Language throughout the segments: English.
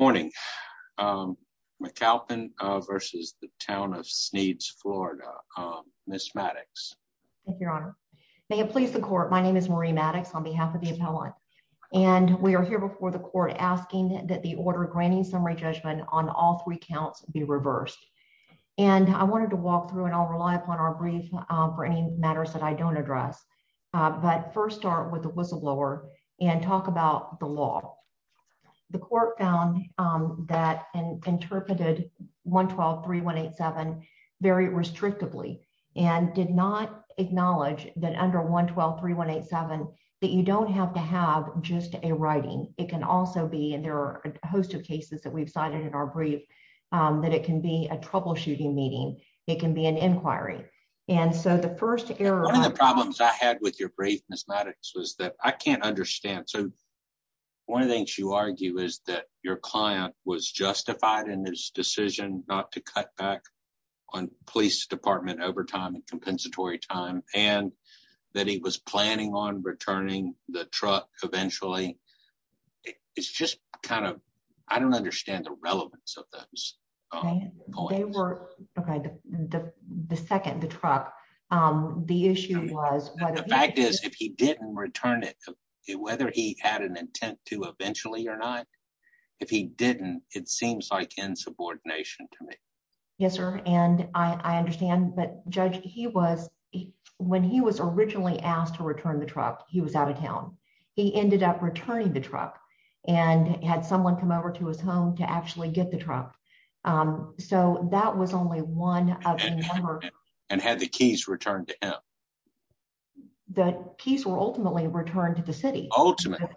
McAlpin v. Town of Sneads, Fla., Ms. Maddox. Your Honor, may it please the court. My name is Marie Maddox on behalf of the appellant, and we are here before the court asking that the order granting summary judgment on all three counts be reversed. And I wanted to walk through and I'll rely upon our brief for any matters that I don't address. But first start with the whistleblower and talk about the law. The court found that and interpreted 112-3187 very restrictively and did not acknowledge that under 112-3187 that you don't have to have just a writing, it can also be and there are a host of cases that we've cited in our brief, that it can be a troubleshooting meeting, it can be an inquiry. One of the problems I had with your brief, Ms. Maddox, was that I can't understand. So one of the things you argue is that your client was justified in his decision not to cut back on police department overtime and compensatory time and that he was planning on returning the truck eventually. It's just kind of, I don't understand the relevance of those. The second, the truck, the issue was... The fact is, if he didn't return it, whether he had an intent to eventually or not, if he didn't, it seems like insubordination to me. Yes, sir. And I understand, but Judge, he was, when he was originally asked to return the truck, he was out of town. He ended up returning the truck and had someone come over to his home to actually get the truck. So that was only one of the... And had the keys returned to him. The keys were ultimately returned to the city. Ultimately.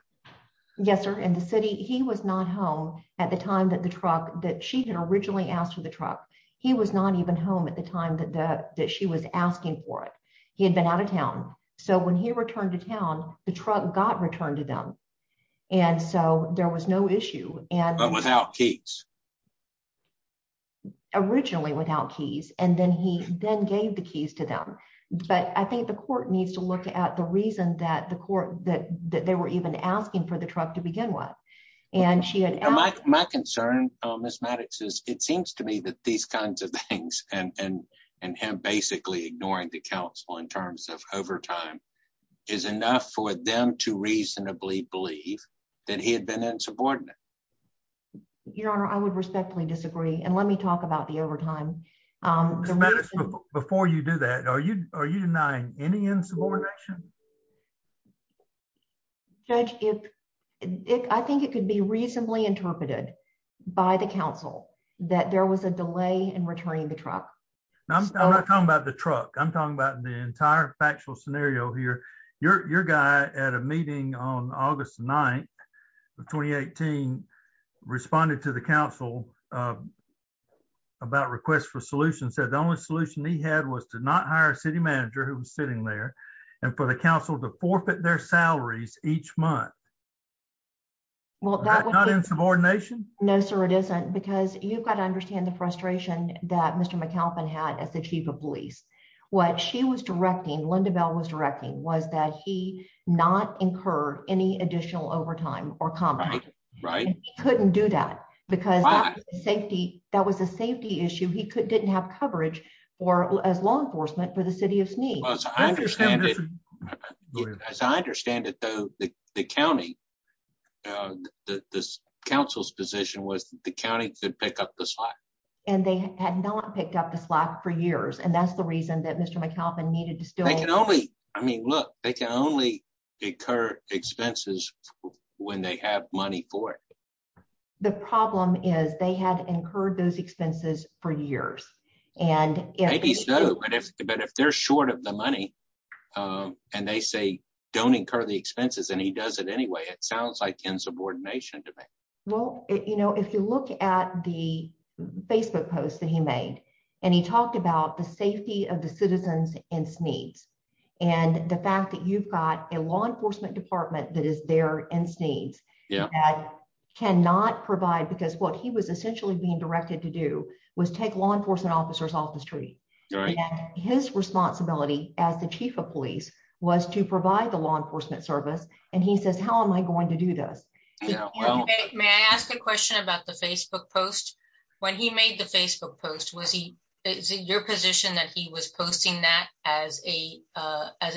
Yes, sir. And the city, he was not home at the time that the truck, that she had originally asked for the truck. He was not even home at the time that she was asking for it. He had been out of town. So when he returned to town, the truck got returned to them. And so there was no issue. But without keys. Originally without keys. And then he then gave the keys to them. But I think the court needs to look at the reason that the court, that they were even asking for the truck to begin with. My concern, Ms. Maddox, is it seems to me that these kinds of things and him basically ignoring the counsel in terms of overtime is enough for them to reasonably believe that he had been insubordinate. Your Honor, I would respectfully disagree. And let me talk about the overtime. Ms. Maddox, before you do that, are you denying any insubordination? Judge, I think it could be reasonably interpreted by the council that there was a delay in returning the truck. I'm not talking about the truck. I'm talking about the entire factual scenario here. Your guy at a meeting on August 9th of 2018 responded to the council about requests for solutions that the only solution he had was to not hire a city manager who was sitting there and for the council to forfeit their salaries each month. Well, not in subordination. No, sir, it isn't because you've got to understand the frustration that Mr. McAlpin had as the chief of police. What she was directing, Lynda Bell was directing, was that he not incur any additional overtime or combat. Right. He couldn't do that because that was a safety issue. He didn't have coverage as law enforcement for the city of Sneed. As I understand it, though, the county, the council's position was the county could pick up the slack. And they had not picked up the slack for years. And that's the reason that Mr. McAlpin needed to still... I mean, look, they can only incur expenses when they have money for it. The problem is they had incurred those expenses for years. Maybe so, but if they're short of the money and they say don't incur the expenses and he does it anyway, it sounds like insubordination to me. Well, you know, if you look at the Facebook post that he made and he talked about the safety of the citizens in Sneed's and the fact that you've got a law enforcement department that is there in Sneed's that cannot provide... Because what he was essentially being directed to do was take law enforcement officers off the street. His responsibility as the chief of police was to provide the law enforcement service. And he says, how am I going to do this? May I ask a question about the Facebook post? When he made the Facebook post, was he... Is it your position that he was posting that as a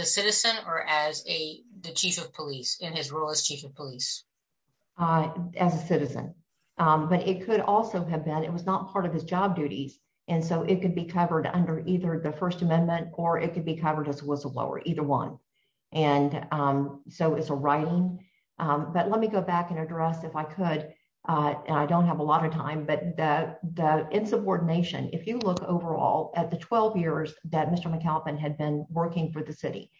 citizen or as the chief of police in his role as chief of police? As a citizen, but it could also have been, it was not part of his job duties. And so it could be covered under either the First Amendment or it could be covered as a whistleblower, either one. And so it's a writing. But let me go back and address if I could, and I don't have a lot of time, but the insubordination. If you look overall at the 12 years that Mr. McAlpin had been working for the city,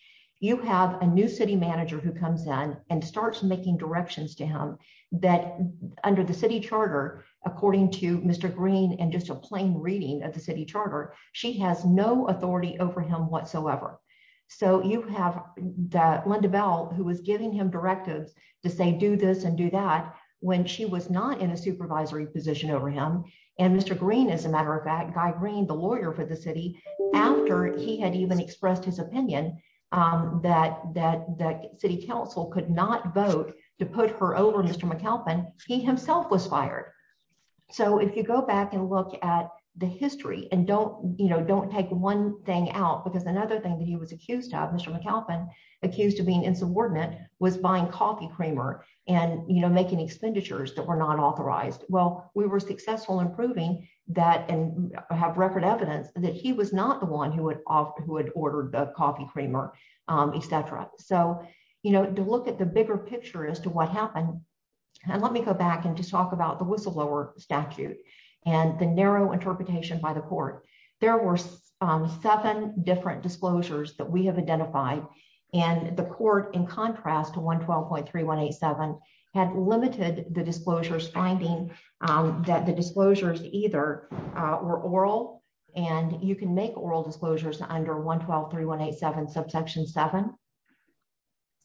you have a new city manager who comes in and starts making directions to him that under the city charter, according to Mr. Green and just a plain reading of the city charter, she has no authority over him whatsoever. So you have Linda Bell, who was giving him directives to say, do this and do that, when she was not in a supervisory position over him. And Mr. Green, as a matter of fact, Guy Green, the lawyer for the city, after he had even expressed his opinion that the city council could not vote to put her over Mr. McAlpin, he himself was fired. So if you go back and look at the history and don't, you know, don't take one thing out because another thing that he was accused of, Mr. McAlpin, accused of being insubordinate, was buying coffee creamer and, you know, making expenditures that were not authorized. Well, we were successful in proving that and have record evidence that he was not the one who had ordered the coffee creamer, etc. So, you know, to look at the bigger picture as to what happened, and let me go back and just talk about the whistleblower statute, and the narrow interpretation by the court. There were seven different disclosures that we have identified, and the court, in contrast to 112.3187, had limited the disclosures, finding that the disclosures either were oral, and you can make oral disclosures under 112.3187 subsection 7.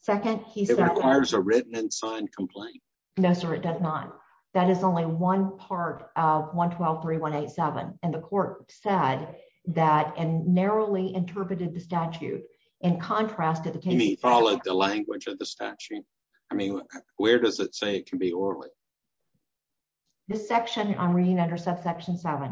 It requires a written and signed complaint. No, sir, it does not. That is only one part of 112.3187, and the court said that, and narrowly interpreted the statute, in contrast to the case. You mean it followed the language of the statute? I mean, where does it say it can be orally? This section, I'm reading under subsection 7.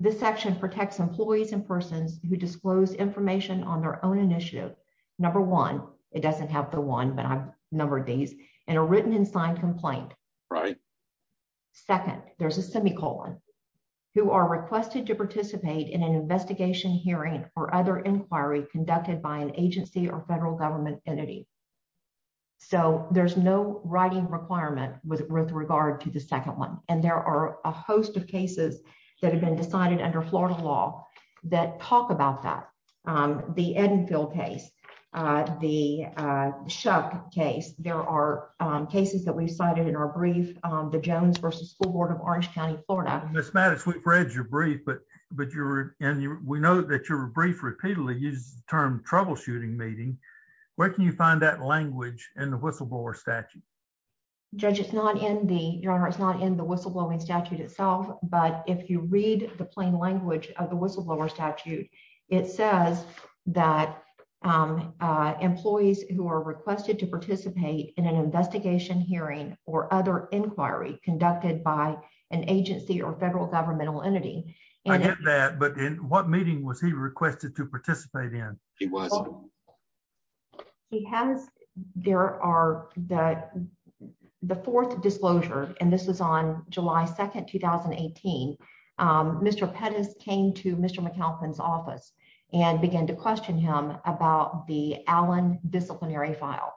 This section protects employees and persons who disclose information on their own initiative. Number one, it doesn't have the one, but I've numbered these, and a written and signed complaint. Right. Second, there's a semicolon, who are requested to participate in an investigation, hearing, or other inquiry conducted by an agency or federal government entity. So, there's no writing requirement with regard to the second one, and there are a host of cases that have been decided under Florida law that talk about that. The Edenfield case, the Shook case, there are cases that we've cited in our brief, the Jones v. School Board of Orange County, Florida. Ms. Mattis, we've read your brief, and we know that your brief repeatedly uses the term troubleshooting meeting. Where can you find that language in the whistleblower statute? Judge, it's not in the whistleblowing statute itself, but if you read the plain language of the whistleblower statute, it says that employees who are requested to participate in an investigation, hearing, or other inquiry conducted by an agency or federal governmental entity. I get that, but in what meeting was he requested to participate in? He wasn't. He has, there are, the fourth disclosure, and this was on July 2nd, 2018, Mr. Pettis came to Mr. McAlpin's office and began to question him about the Allen disciplinary file.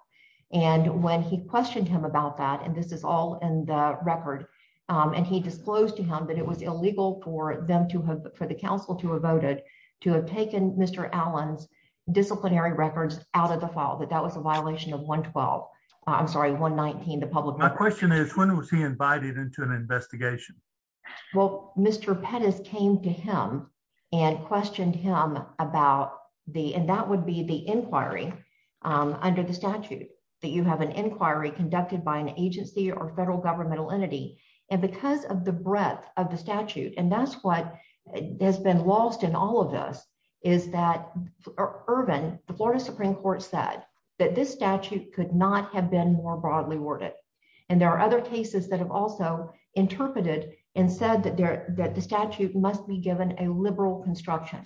And when he questioned him about that, and this is all in the record, and he disclosed to him that it was illegal for the council to have voted to have taken Mr. Allen's disciplinary records out of the file, that that was a violation of 112, I'm sorry, 119, the public record. My question is, when was he invited into an investigation? Well, Mr. Pettis came to him and questioned him about the, and that would be the inquiry under the statute, that you have an inquiry conducted by an agency or federal governmental entity. And because of the breadth of the statute, and that's what has been lost in all of this, is that Irvin, the Florida Supreme Court said that this statute could not have been more broadly worded. And there are other cases that have also interpreted and said that the statute must be given a liberal construction.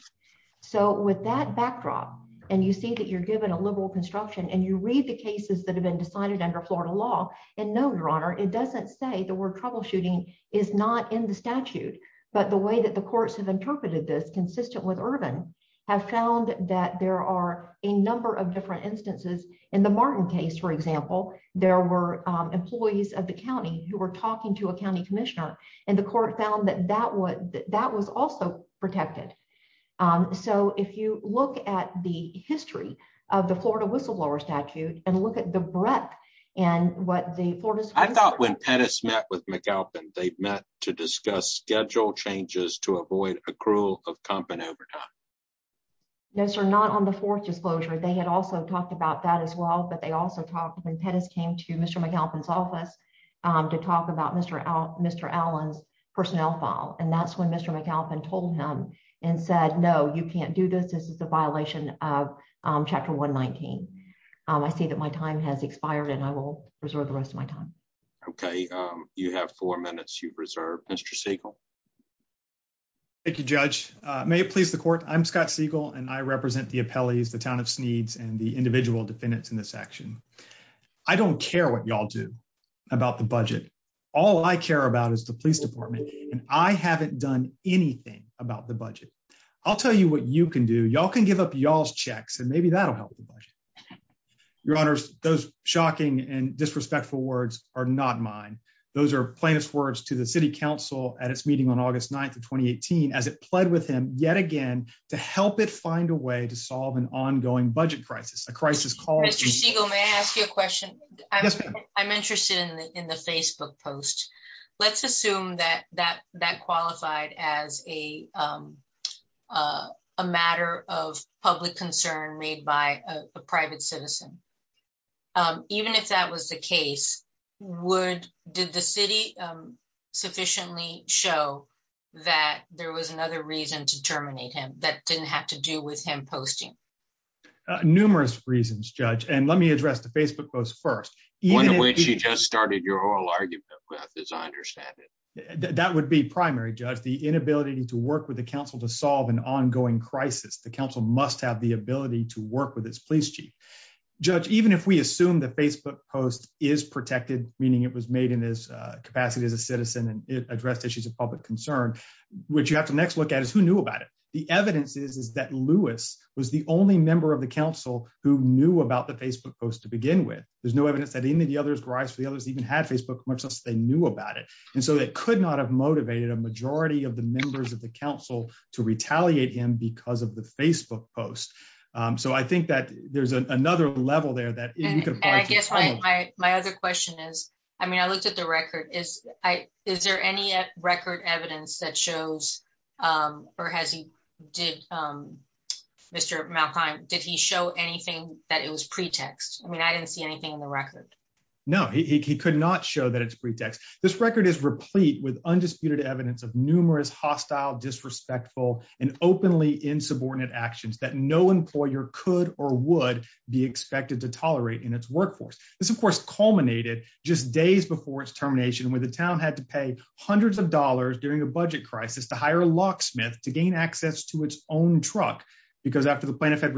So with that backdrop, and you see that you're given a liberal construction and you read the cases that have been decided under Florida law, and no, Your Honor, it doesn't say the word troubleshooting is not in the statute, but the way that the courts have So if you look at the history of the Florida whistleblower statute, and look at the breadth, and what the Florida Supreme Court... I thought when Pettis met with McAlpin, they met to discuss schedule changes to avoid accrual of comp and overtime. No sir, not on the fourth disclosure, they had also talked about that as well, but they also talked when Pettis came to Mr. McAlpin's office to talk about Mr. Allen's personnel file. And that's when Mr. McAlpin told him and said, no, you can't do this, this is a violation of chapter 119. I see that my time has expired and I will reserve the rest of my time. Okay, you have four minutes you've reserved. Mr. Siegel. Thank you, Judge. May it please the court. I'm Scott Siegel and I represent the appellees, the town of Sneeds, and the individual defendants in this action. I don't care what y'all do about the budget. All I care about is the police department, and I haven't done anything about the budget. I'll tell you what you can do. Y'all can give up y'all's checks and maybe that'll help the budget. Your Honor, those shocking and disrespectful words are not mine. Those are plainest words to the city council at its meeting on August 9 2018 as it pled with him yet again to help it find a way to solve an ongoing budget crisis a crisis called a question. I'm interested in the Facebook post. Let's assume that that that qualified as a matter of public concern made by a private citizen. Even if that was the case, would did the city sufficiently show that there was another reason to terminate him that didn't have to do with him posting. Numerous reasons judge and let me address the Facebook post first, even when she just started your oral argument with as I understand it, that would be primary judge the inability to work with the council to solve an ongoing crisis the council must have the ability to work with this police chief judge even if we assume that Facebook post is protected, meaning it was made in his capacity as a citizen and address issues of public concern, which you have to next look at is who knew about it. The evidence is is that Lewis was the only member of the council who knew about the Facebook post to begin with, there's no evidence that any of the others rise for the others even had Facebook much less they knew about it. And so that could not have motivated a majority of the members of the council to retaliate him because of the Facebook post. So I think that there's another level there that my other question is, I mean I looked at the record is I, is there any record evidence that shows, or has he did Mr. Did he show anything that it was pretext, I mean I didn't see anything in the record. No, he could not show that it's pretext. This record is replete with undisputed evidence of numerous hostile disrespectful and openly insubordinate actions that no employer could or would be expected to tolerate in its workforce. This of course culminated just days before its termination with the town had to pay hundreds of dollars during a budget crisis to hire a locksmith to gain access to its own truck, because after the because the plaintiff had again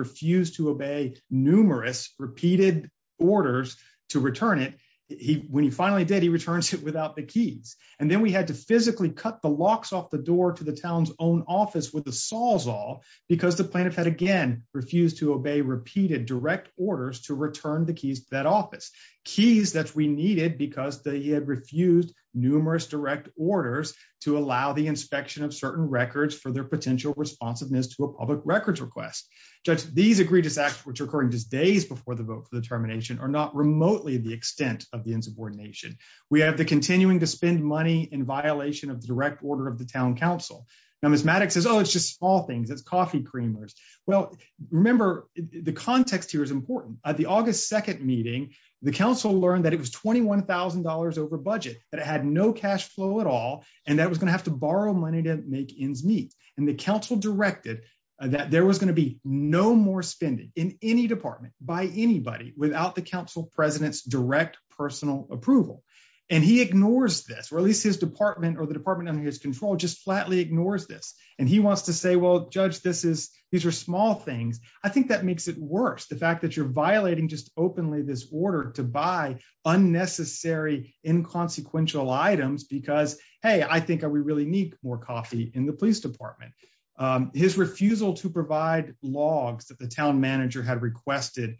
refused to obey repeated direct orders to return the keys that office keys that we needed because they had refused numerous direct orders to allow the inspection of certain records for their potential responsiveness to a public records request. Just these egregious acts which are occurring just days before the vote for the termination or not remotely the extent of the insubordination. We have the continuing to spend money in violation of the direct order of the town council. Now Miss Maddox says oh it's just all things it's coffee creamers. Well, remember, the context here is important at the August 2 meeting, the council learned that it was $21,000 over budget that had no cash flow at all. And that was going to have to borrow money to make ends meet, and the council directed that there was going to be no more spending in any department by anybody without the council presidents direct personal approval. And he ignores this release his department or the department under his control just flatly ignores this, and he wants to say well judge this is, these are small things. I think that makes it worse the fact that you're violating just openly this order to buy unnecessary inconsequential items because, hey, I think we really need more coffee in the police department. His refusal to provide logs that the town manager had requested.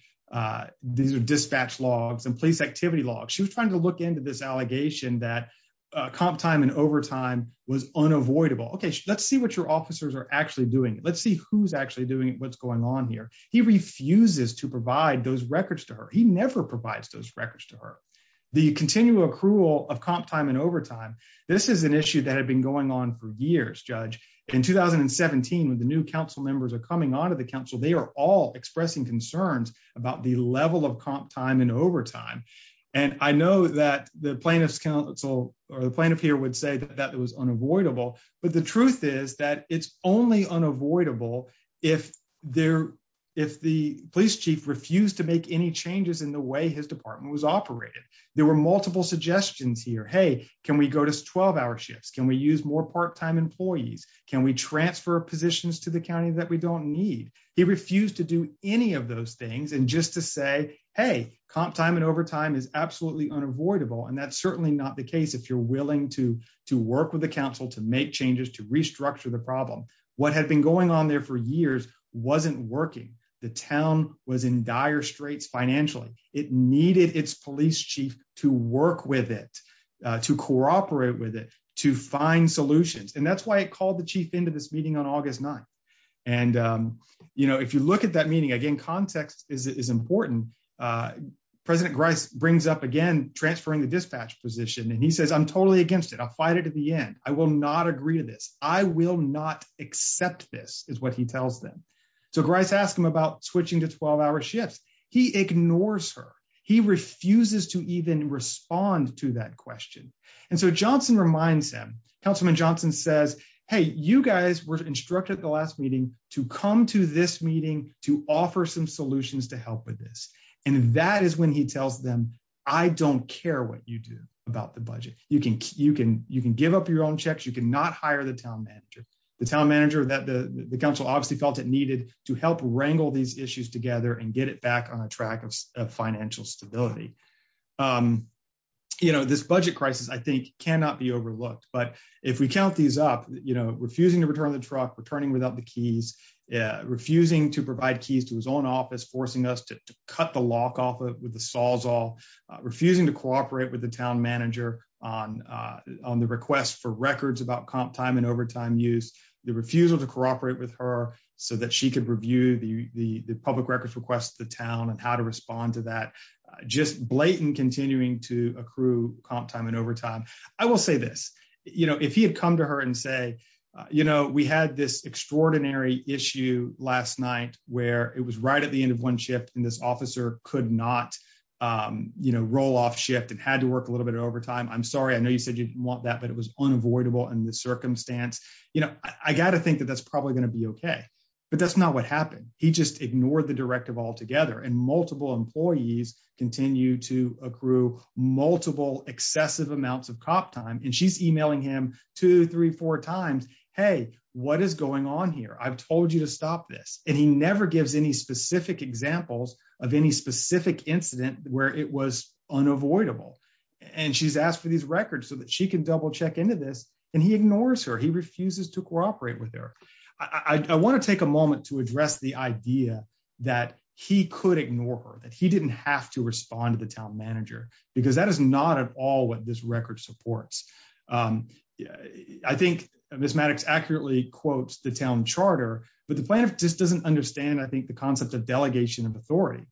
These are dispatch logs and police activity logs she was trying to look into this allegation that comp time and overtime was unavoidable okay let's see what your officers are actually doing let's see who's actually doing what's going on here. He refuses to provide those records to her he never provides those records to her. The continual accrual of comp time and overtime. This is an issue that had been going on for years judge in 2017 with the new council members are coming on to the council chief refused to make any changes in the way his department was operated. There were multiple suggestions here hey, can we go to 12 hour shifts can we use more part time employees, can we transfer positions to the county that we don't need. He refused to do any of those things and just to say, hey, comp time and overtime is absolutely unavoidable and that's certainly not the case if you're willing to to work with the council to make changes to restructure the problem. What had been going on there for years, wasn't working. The town was in dire straits financially, it needed its police chief to work with it to cooperate with it to find solutions and that's why I called the chief into this meeting on August 9. And, you know, if you look at that meeting again context is important. President Grice brings up again transferring the dispatch position and he says I'm totally against it I'll fight it at the end, I will not agree to this, I will not accept this is what he tells them. So Grice asked him about switching to 12 hour shifts. He ignores her. He refuses to even respond to that question. And so Johnson reminds him, Councilman Johnson says, hey, you guys were instructed the last meeting to come to this meeting to offer some solutions to help with this. And that is when he tells them, I don't care what you do about the budget, you can you can you can give up your own checks you can not hire the town manager, the town manager that the council obviously felt it needed to help wrangle these issues together and get it back on a track of financial stability. You know this budget crisis I think cannot be overlooked but if we count these up, you know, refusing to return the truck returning without the keys, refusing to provide keys to his own office forcing us to cut the lock off with the saws all refusing to cooperate with the town manager on on the request for records about comp time and overtime use the refusal to cooperate with her so that she could review the the public records request the town and how to respond to that just blatant continuing to accrue comp time and overtime. I will say this, you know, if he had come to her and say, you know, we had this extraordinary issue last night, where it was right at the end of one shift in this officer could not, you know, roll off shift and had to work a little bit of overtime I'm sorry I know you said you want that but it was unavoidable and the circumstance, you know, I gotta think that that's probably going to be okay. But that's not what happened. He just ignored the directive altogether and multiple employees continue to accrue multiple excessive amounts of comp time and she's emailing him 234 times, hey, what is going on here I've told you to stop this, and he and she's asked for these records so that she can double check into this, and he ignores her he refuses to cooperate with her. I want to take a moment to address the idea that he could ignore her that he didn't have to respond to the town manager, because that is not at all what this record supports. I think, Miss Maddox accurately quotes the town charter, but the plan just doesn't understand I think the concept of delegation of authority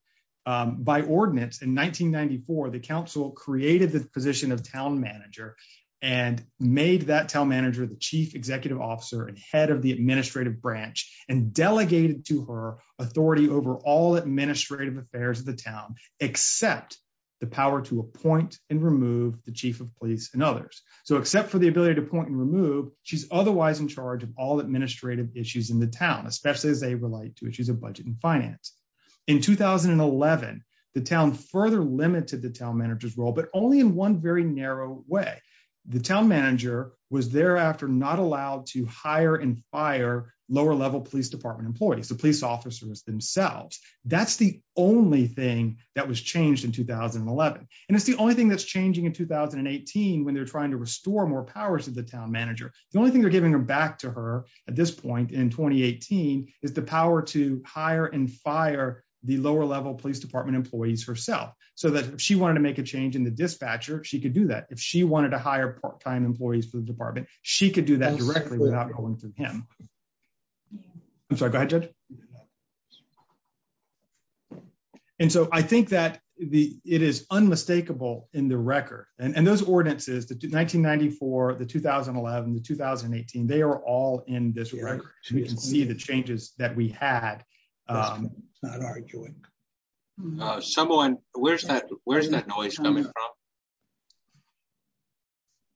by ordinance in 1994 the council created the position of town manager and made that town manager the chief executive officer and head of the administrative branch and delegated to her authority over all administrative affairs of the town, except the power to appoint and remove the chief of police and others. So except for the ability to point and remove, she's otherwise in charge of all administrative issues in the town, especially as they relate to issues of budget and finance. In 2011, the town further limited the town managers role but only in one very narrow way. The town manager was thereafter not allowed to hire and fire, lower level police department employees the police officers themselves. That's the only thing that was changed in 2011, and it's the only thing that's changing in 2018 when they're trying to restore more powers of the town manager, the only thing they're giving them back to her at this point in 2018 is the power to hire and fire, the lower level police department employees herself, so that she wanted to make a change in the dispatcher she could do that if she wanted to hire part time employees for the department, she could do that directly without going through him. I'm sorry budget. And so I think that the, it is unmistakable in the record, and those ordinances that did 1994 the 2011 the 2018 they are all in this record, you can see the changes that we had not arguing someone, where's that where's that noise coming from.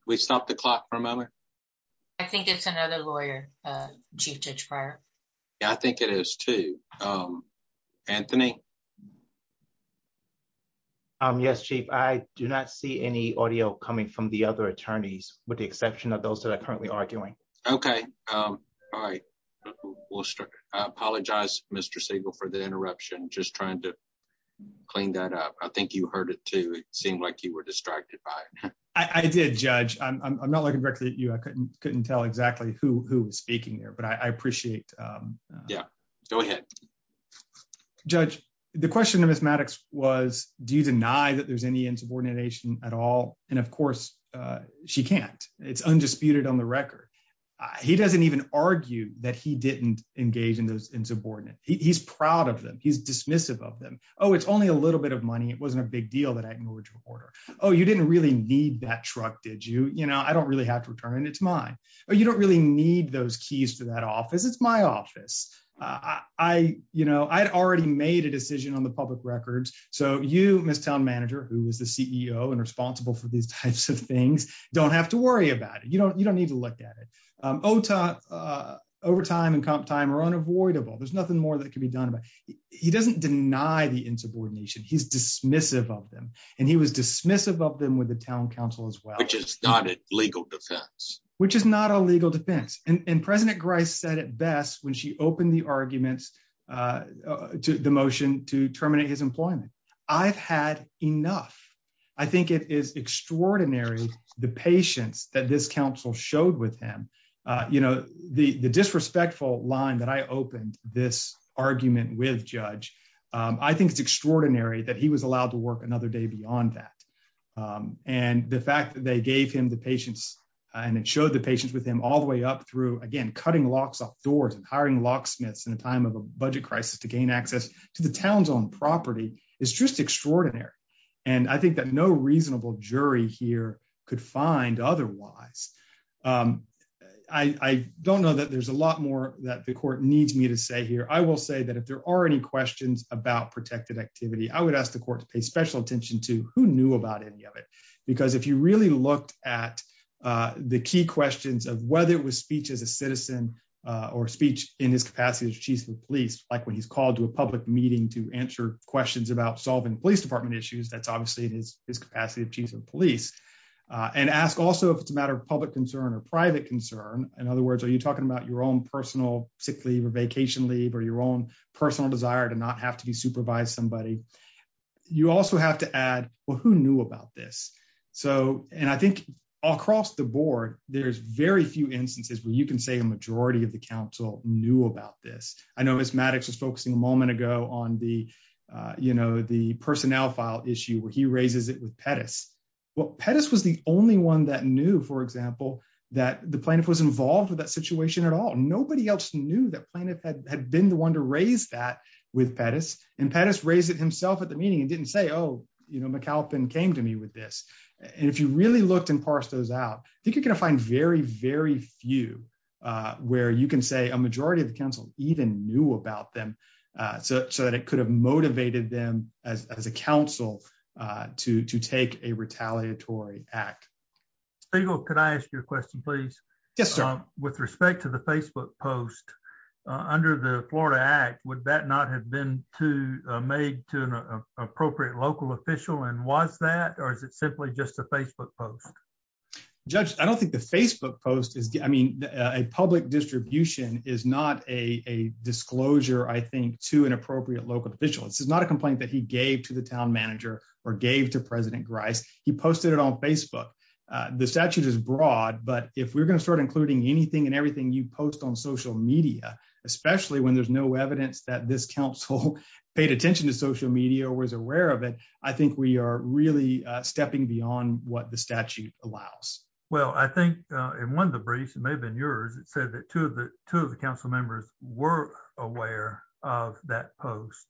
We stopped the clock for a moment. I think it's another lawyer. I think it is to Anthony. Yes, chief, I do not see any audio coming from the other attorneys, with the exception of those that are currently arguing. Okay. All right. We'll start apologize, Mr Segal for the interruption just trying to clean that up. I think you heard it to seem like you were distracted by. I did judge, I'm not looking directly at you I couldn't couldn't tell exactly who who was speaking there but I appreciate. Yeah, go ahead. Judge, the question of mathematics was, do you deny that there's any insubordination at all. And of course, she can't, it's undisputed on the record. He doesn't even argue that he didn't engage in those insubordinate he's proud of them he's dismissive of them. Oh, it's only a little bit of money it wasn't a big deal that I can order. Oh, you didn't really need that truck did you you know I don't really have to return it to mine, or you don't really need those keys to that office it's my office. I, you know, I'd already made a decision on the public records. So you miss town manager who was the CEO and responsible for these types of things, don't have to worry about it you don't you don't need to look at it. overtime and comp time or unavoidable there's nothing more that can be done about. He doesn't deny the insubordination he's dismissive of them, and he was dismissive of them with the town council as well just started legal defense, which is not a legal You know, the the disrespectful line that I opened this argument with judge. I think it's extraordinary that he was allowed to work another day beyond that. And the fact that they gave him the patients, and it showed the patients with him all the way up through again cutting locks off doors and hiring locksmiths in a time of a budget crisis to gain access to the towns on property is just extraordinary. And I think that no reasonable jury here could find otherwise. I don't know that there's a lot more that the court needs me to say here I will say that if there are any questions about protected activity I would ask the court to pay special attention to who knew about any of it. Because if you really looked at the key questions of whether it was speech as a citizen or speech in his capacity as chief of police, like when he's called to a public meeting to answer questions about solving police department issues that's obviously his, his capacity of chief of police and ask also if it's a matter of public concern or private concern. In other words, are you talking about your own personal sick leave or vacation leave or your own personal desire to not have to be supervised somebody. You also have to add, well who knew about this. So, and I think across the board, there's very few instances where you can say a majority of the council knew about this, I know as Maddox was focusing a moment ago on the, you know, the personnel file issue where he raises it with Pettis. Well Pettis was the only one that knew for example that the plaintiff was involved with that situation at all nobody else knew that plaintiff had been the one to raise that with Pettis and Pettis raise it himself at the meeting and didn't say oh you know McAlpin came to me with this. And if you really looked and parse those out, I think you're going to find very very few, where you can say a majority of the council, even knew about them. So, so that it could have motivated them as a council to take a retaliatory act. Can I ask you a question please. Yes, sir. With respect to the Facebook post under the Florida act would that not have been to made to an appropriate local official and was that or is it simply just a Facebook post. Judge, I don't think the Facebook post is, I mean, a public distribution is not a disclosure I think to an appropriate local official this is not a complaint that he gave to the town manager, or gave to President Grice, he posted it on Facebook. The statute is broad but if we're going to start including anything and everything you post on social media, especially when there's no evidence that this council paid attention to social media was aware of it. I think we are really stepping beyond what the statute allows. Well I think in one of the briefs and maybe in yours, it said that to the to the council members were aware of that post.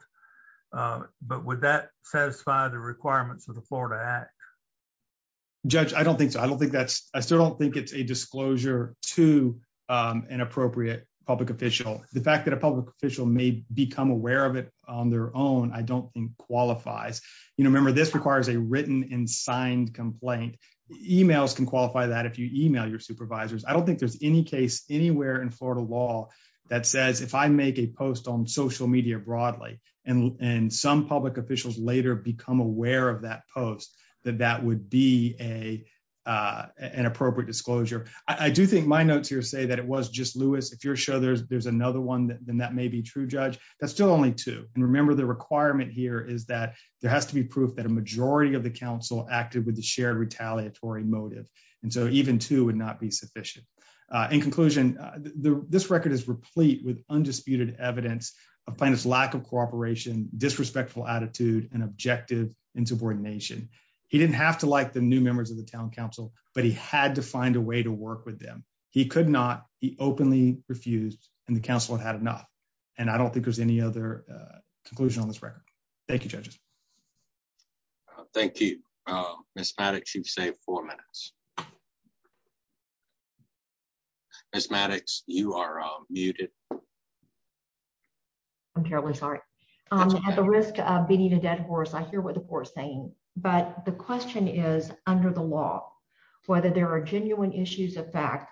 But would that satisfy the requirements of the Florida act. Judge, I don't think so I don't think that's, I still don't think it's a disclosure to an appropriate public official, the fact that a public official may become aware of it on their own I don't think qualifies. You remember this requires a written and signed complaint emails can qualify that if you email your supervisors, I don't think there's any case anywhere in Florida law that says if I make a post on social media broadly, and, and some public officials later become aware of that post that that would be a an appropriate disclosure. I do think my notes here say that it was just Louis if you're sure there's there's another one that then that may be true judge, that's still only two, and remember the requirement here is that there has to be proof that a majority of the council acted with the shared retaliatory motive. And so even to would not be sufficient. In conclusion, the, this record is replete with undisputed evidence of planets lack of cooperation disrespectful attitude and objective and subordination. He didn't have to like the new members of the town council, but he had to find a way to work with them. He could not be openly refused, and the council had had enough. And I don't think there's any other conclusion on this record. Thank you judges. Thank you. Miss Maddox you've saved four minutes. It's Maddox, you are muted. I'm terribly sorry. I'm at the risk of beating a dead horse I hear what the poor saying, but the question is, under the law, whether there are genuine issues of fact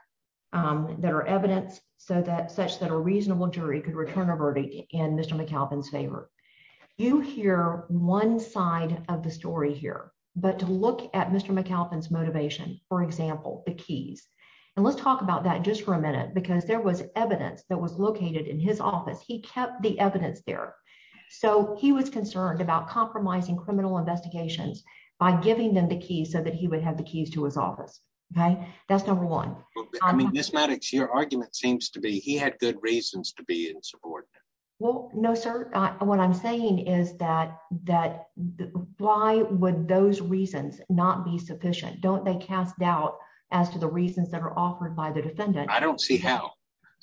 that are evidence, so that such that a reasonable jury could return a verdict in Mr. McAlpin's favor. You hear one side of the story here, but to look at Mr McAlpin's motivation, for example, the keys. And let's talk about that just for a minute because there was evidence that was located in his office he kept the evidence there. So, he was concerned about compromising criminal investigations by giving them the keys so that he would have the keys to his office. Okay, that's number one. I mean this Maddox your argument seems to be he had good reasons to be in support. Well, no, sir. What I'm saying is that, that, why would those reasons, not be sufficient don't they cast doubt as to the reasons that are offered by the defendant, I don't see how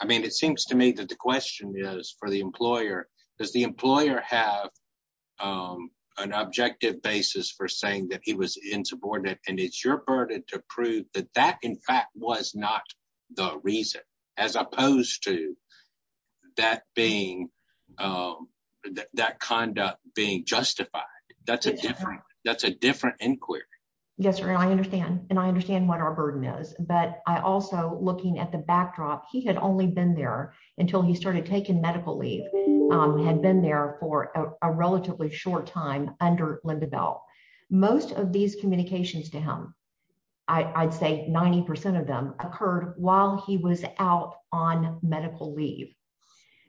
I mean it seems to me that the question is for the employer, because the employer have an objective basis for saying that he was in support of, and it's your burden to prove that that in fact was not the reason, as opposed to that being that conduct being justified. That's a different inquiry. Yes, sir. I understand, and I understand what our burden is, but I also looking at the backdrop he had only been there until he started taking medical leave had been there for a relatively short time under Linda Bell. Most of these communications to him. I'd say 90% of them occurred while he was out on medical leave.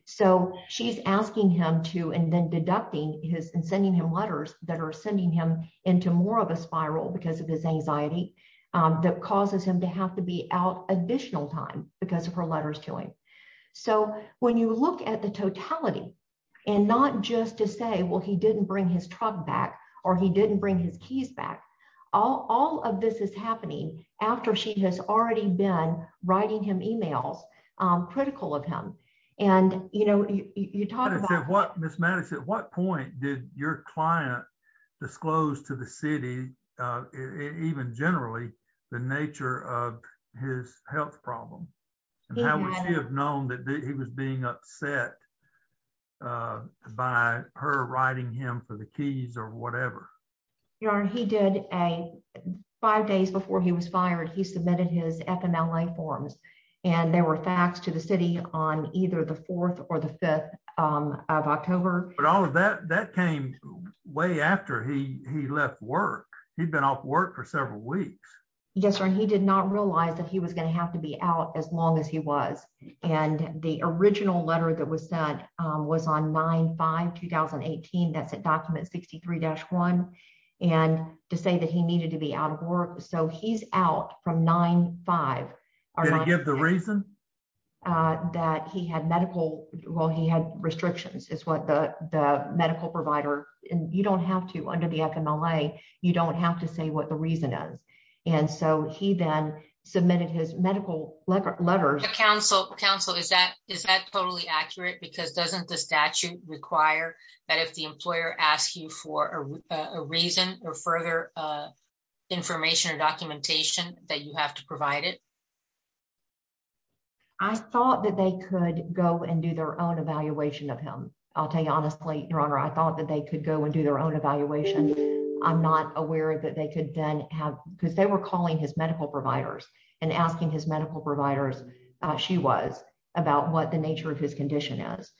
So, she's asking him to and then deducting his and sending him letters that are sending him into more of a spiral because of his anxiety that causes him to have to be out additional time because of her letters to him. So, when you look at the totality, and not just to say well he didn't bring his truck back, or he didn't bring his keys back all of this is happening after she has already been writing him emails critical of him. And, you know, you talk about what Miss Madison, what point did your client disclose to the city. Even generally, the nature of his health problem. Have known that he was being upset by her writing him for the keys or whatever. Yeah, he did a five days before he was fired he submitted his FMLA forms, and there were facts to the city on either the fourth or the fifth of October, but all of that that came way after he left work, he'd been off work for several weeks. Yes, sir. He did not realize that he was going to have to be out as long as he was, and the original letter that was that was on nine by 2018 that's a document 63 dash one. And to say that he needed to be out of work, so he's out from nine five are going to give the reason that he had medical, while he had restrictions is what the medical provider, and you don't have to under the FMLA, you don't have to say what the reason is. And so he then submitted his medical letter letters, counsel counsel is that is that totally accurate because doesn't the statute require that if the employer asked you for a reason, or further information or documentation that you have to provide it. I thought that they could go and do their own evaluation of him. I'll tell you honestly, your honor I thought that they could go and do their own evaluation. I'm not aware that they could then have because they were calling his medical providers and asking his medical providers. She was about what the nature of his condition is.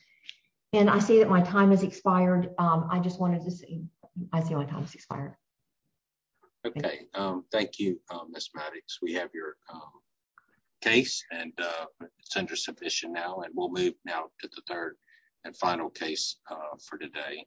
And I see that my time has expired. I just wanted to see. I feel like I'm expired. Okay, thank you, Miss Maddox we have your case, and it's under submission now and we'll move now to the third and final case for today.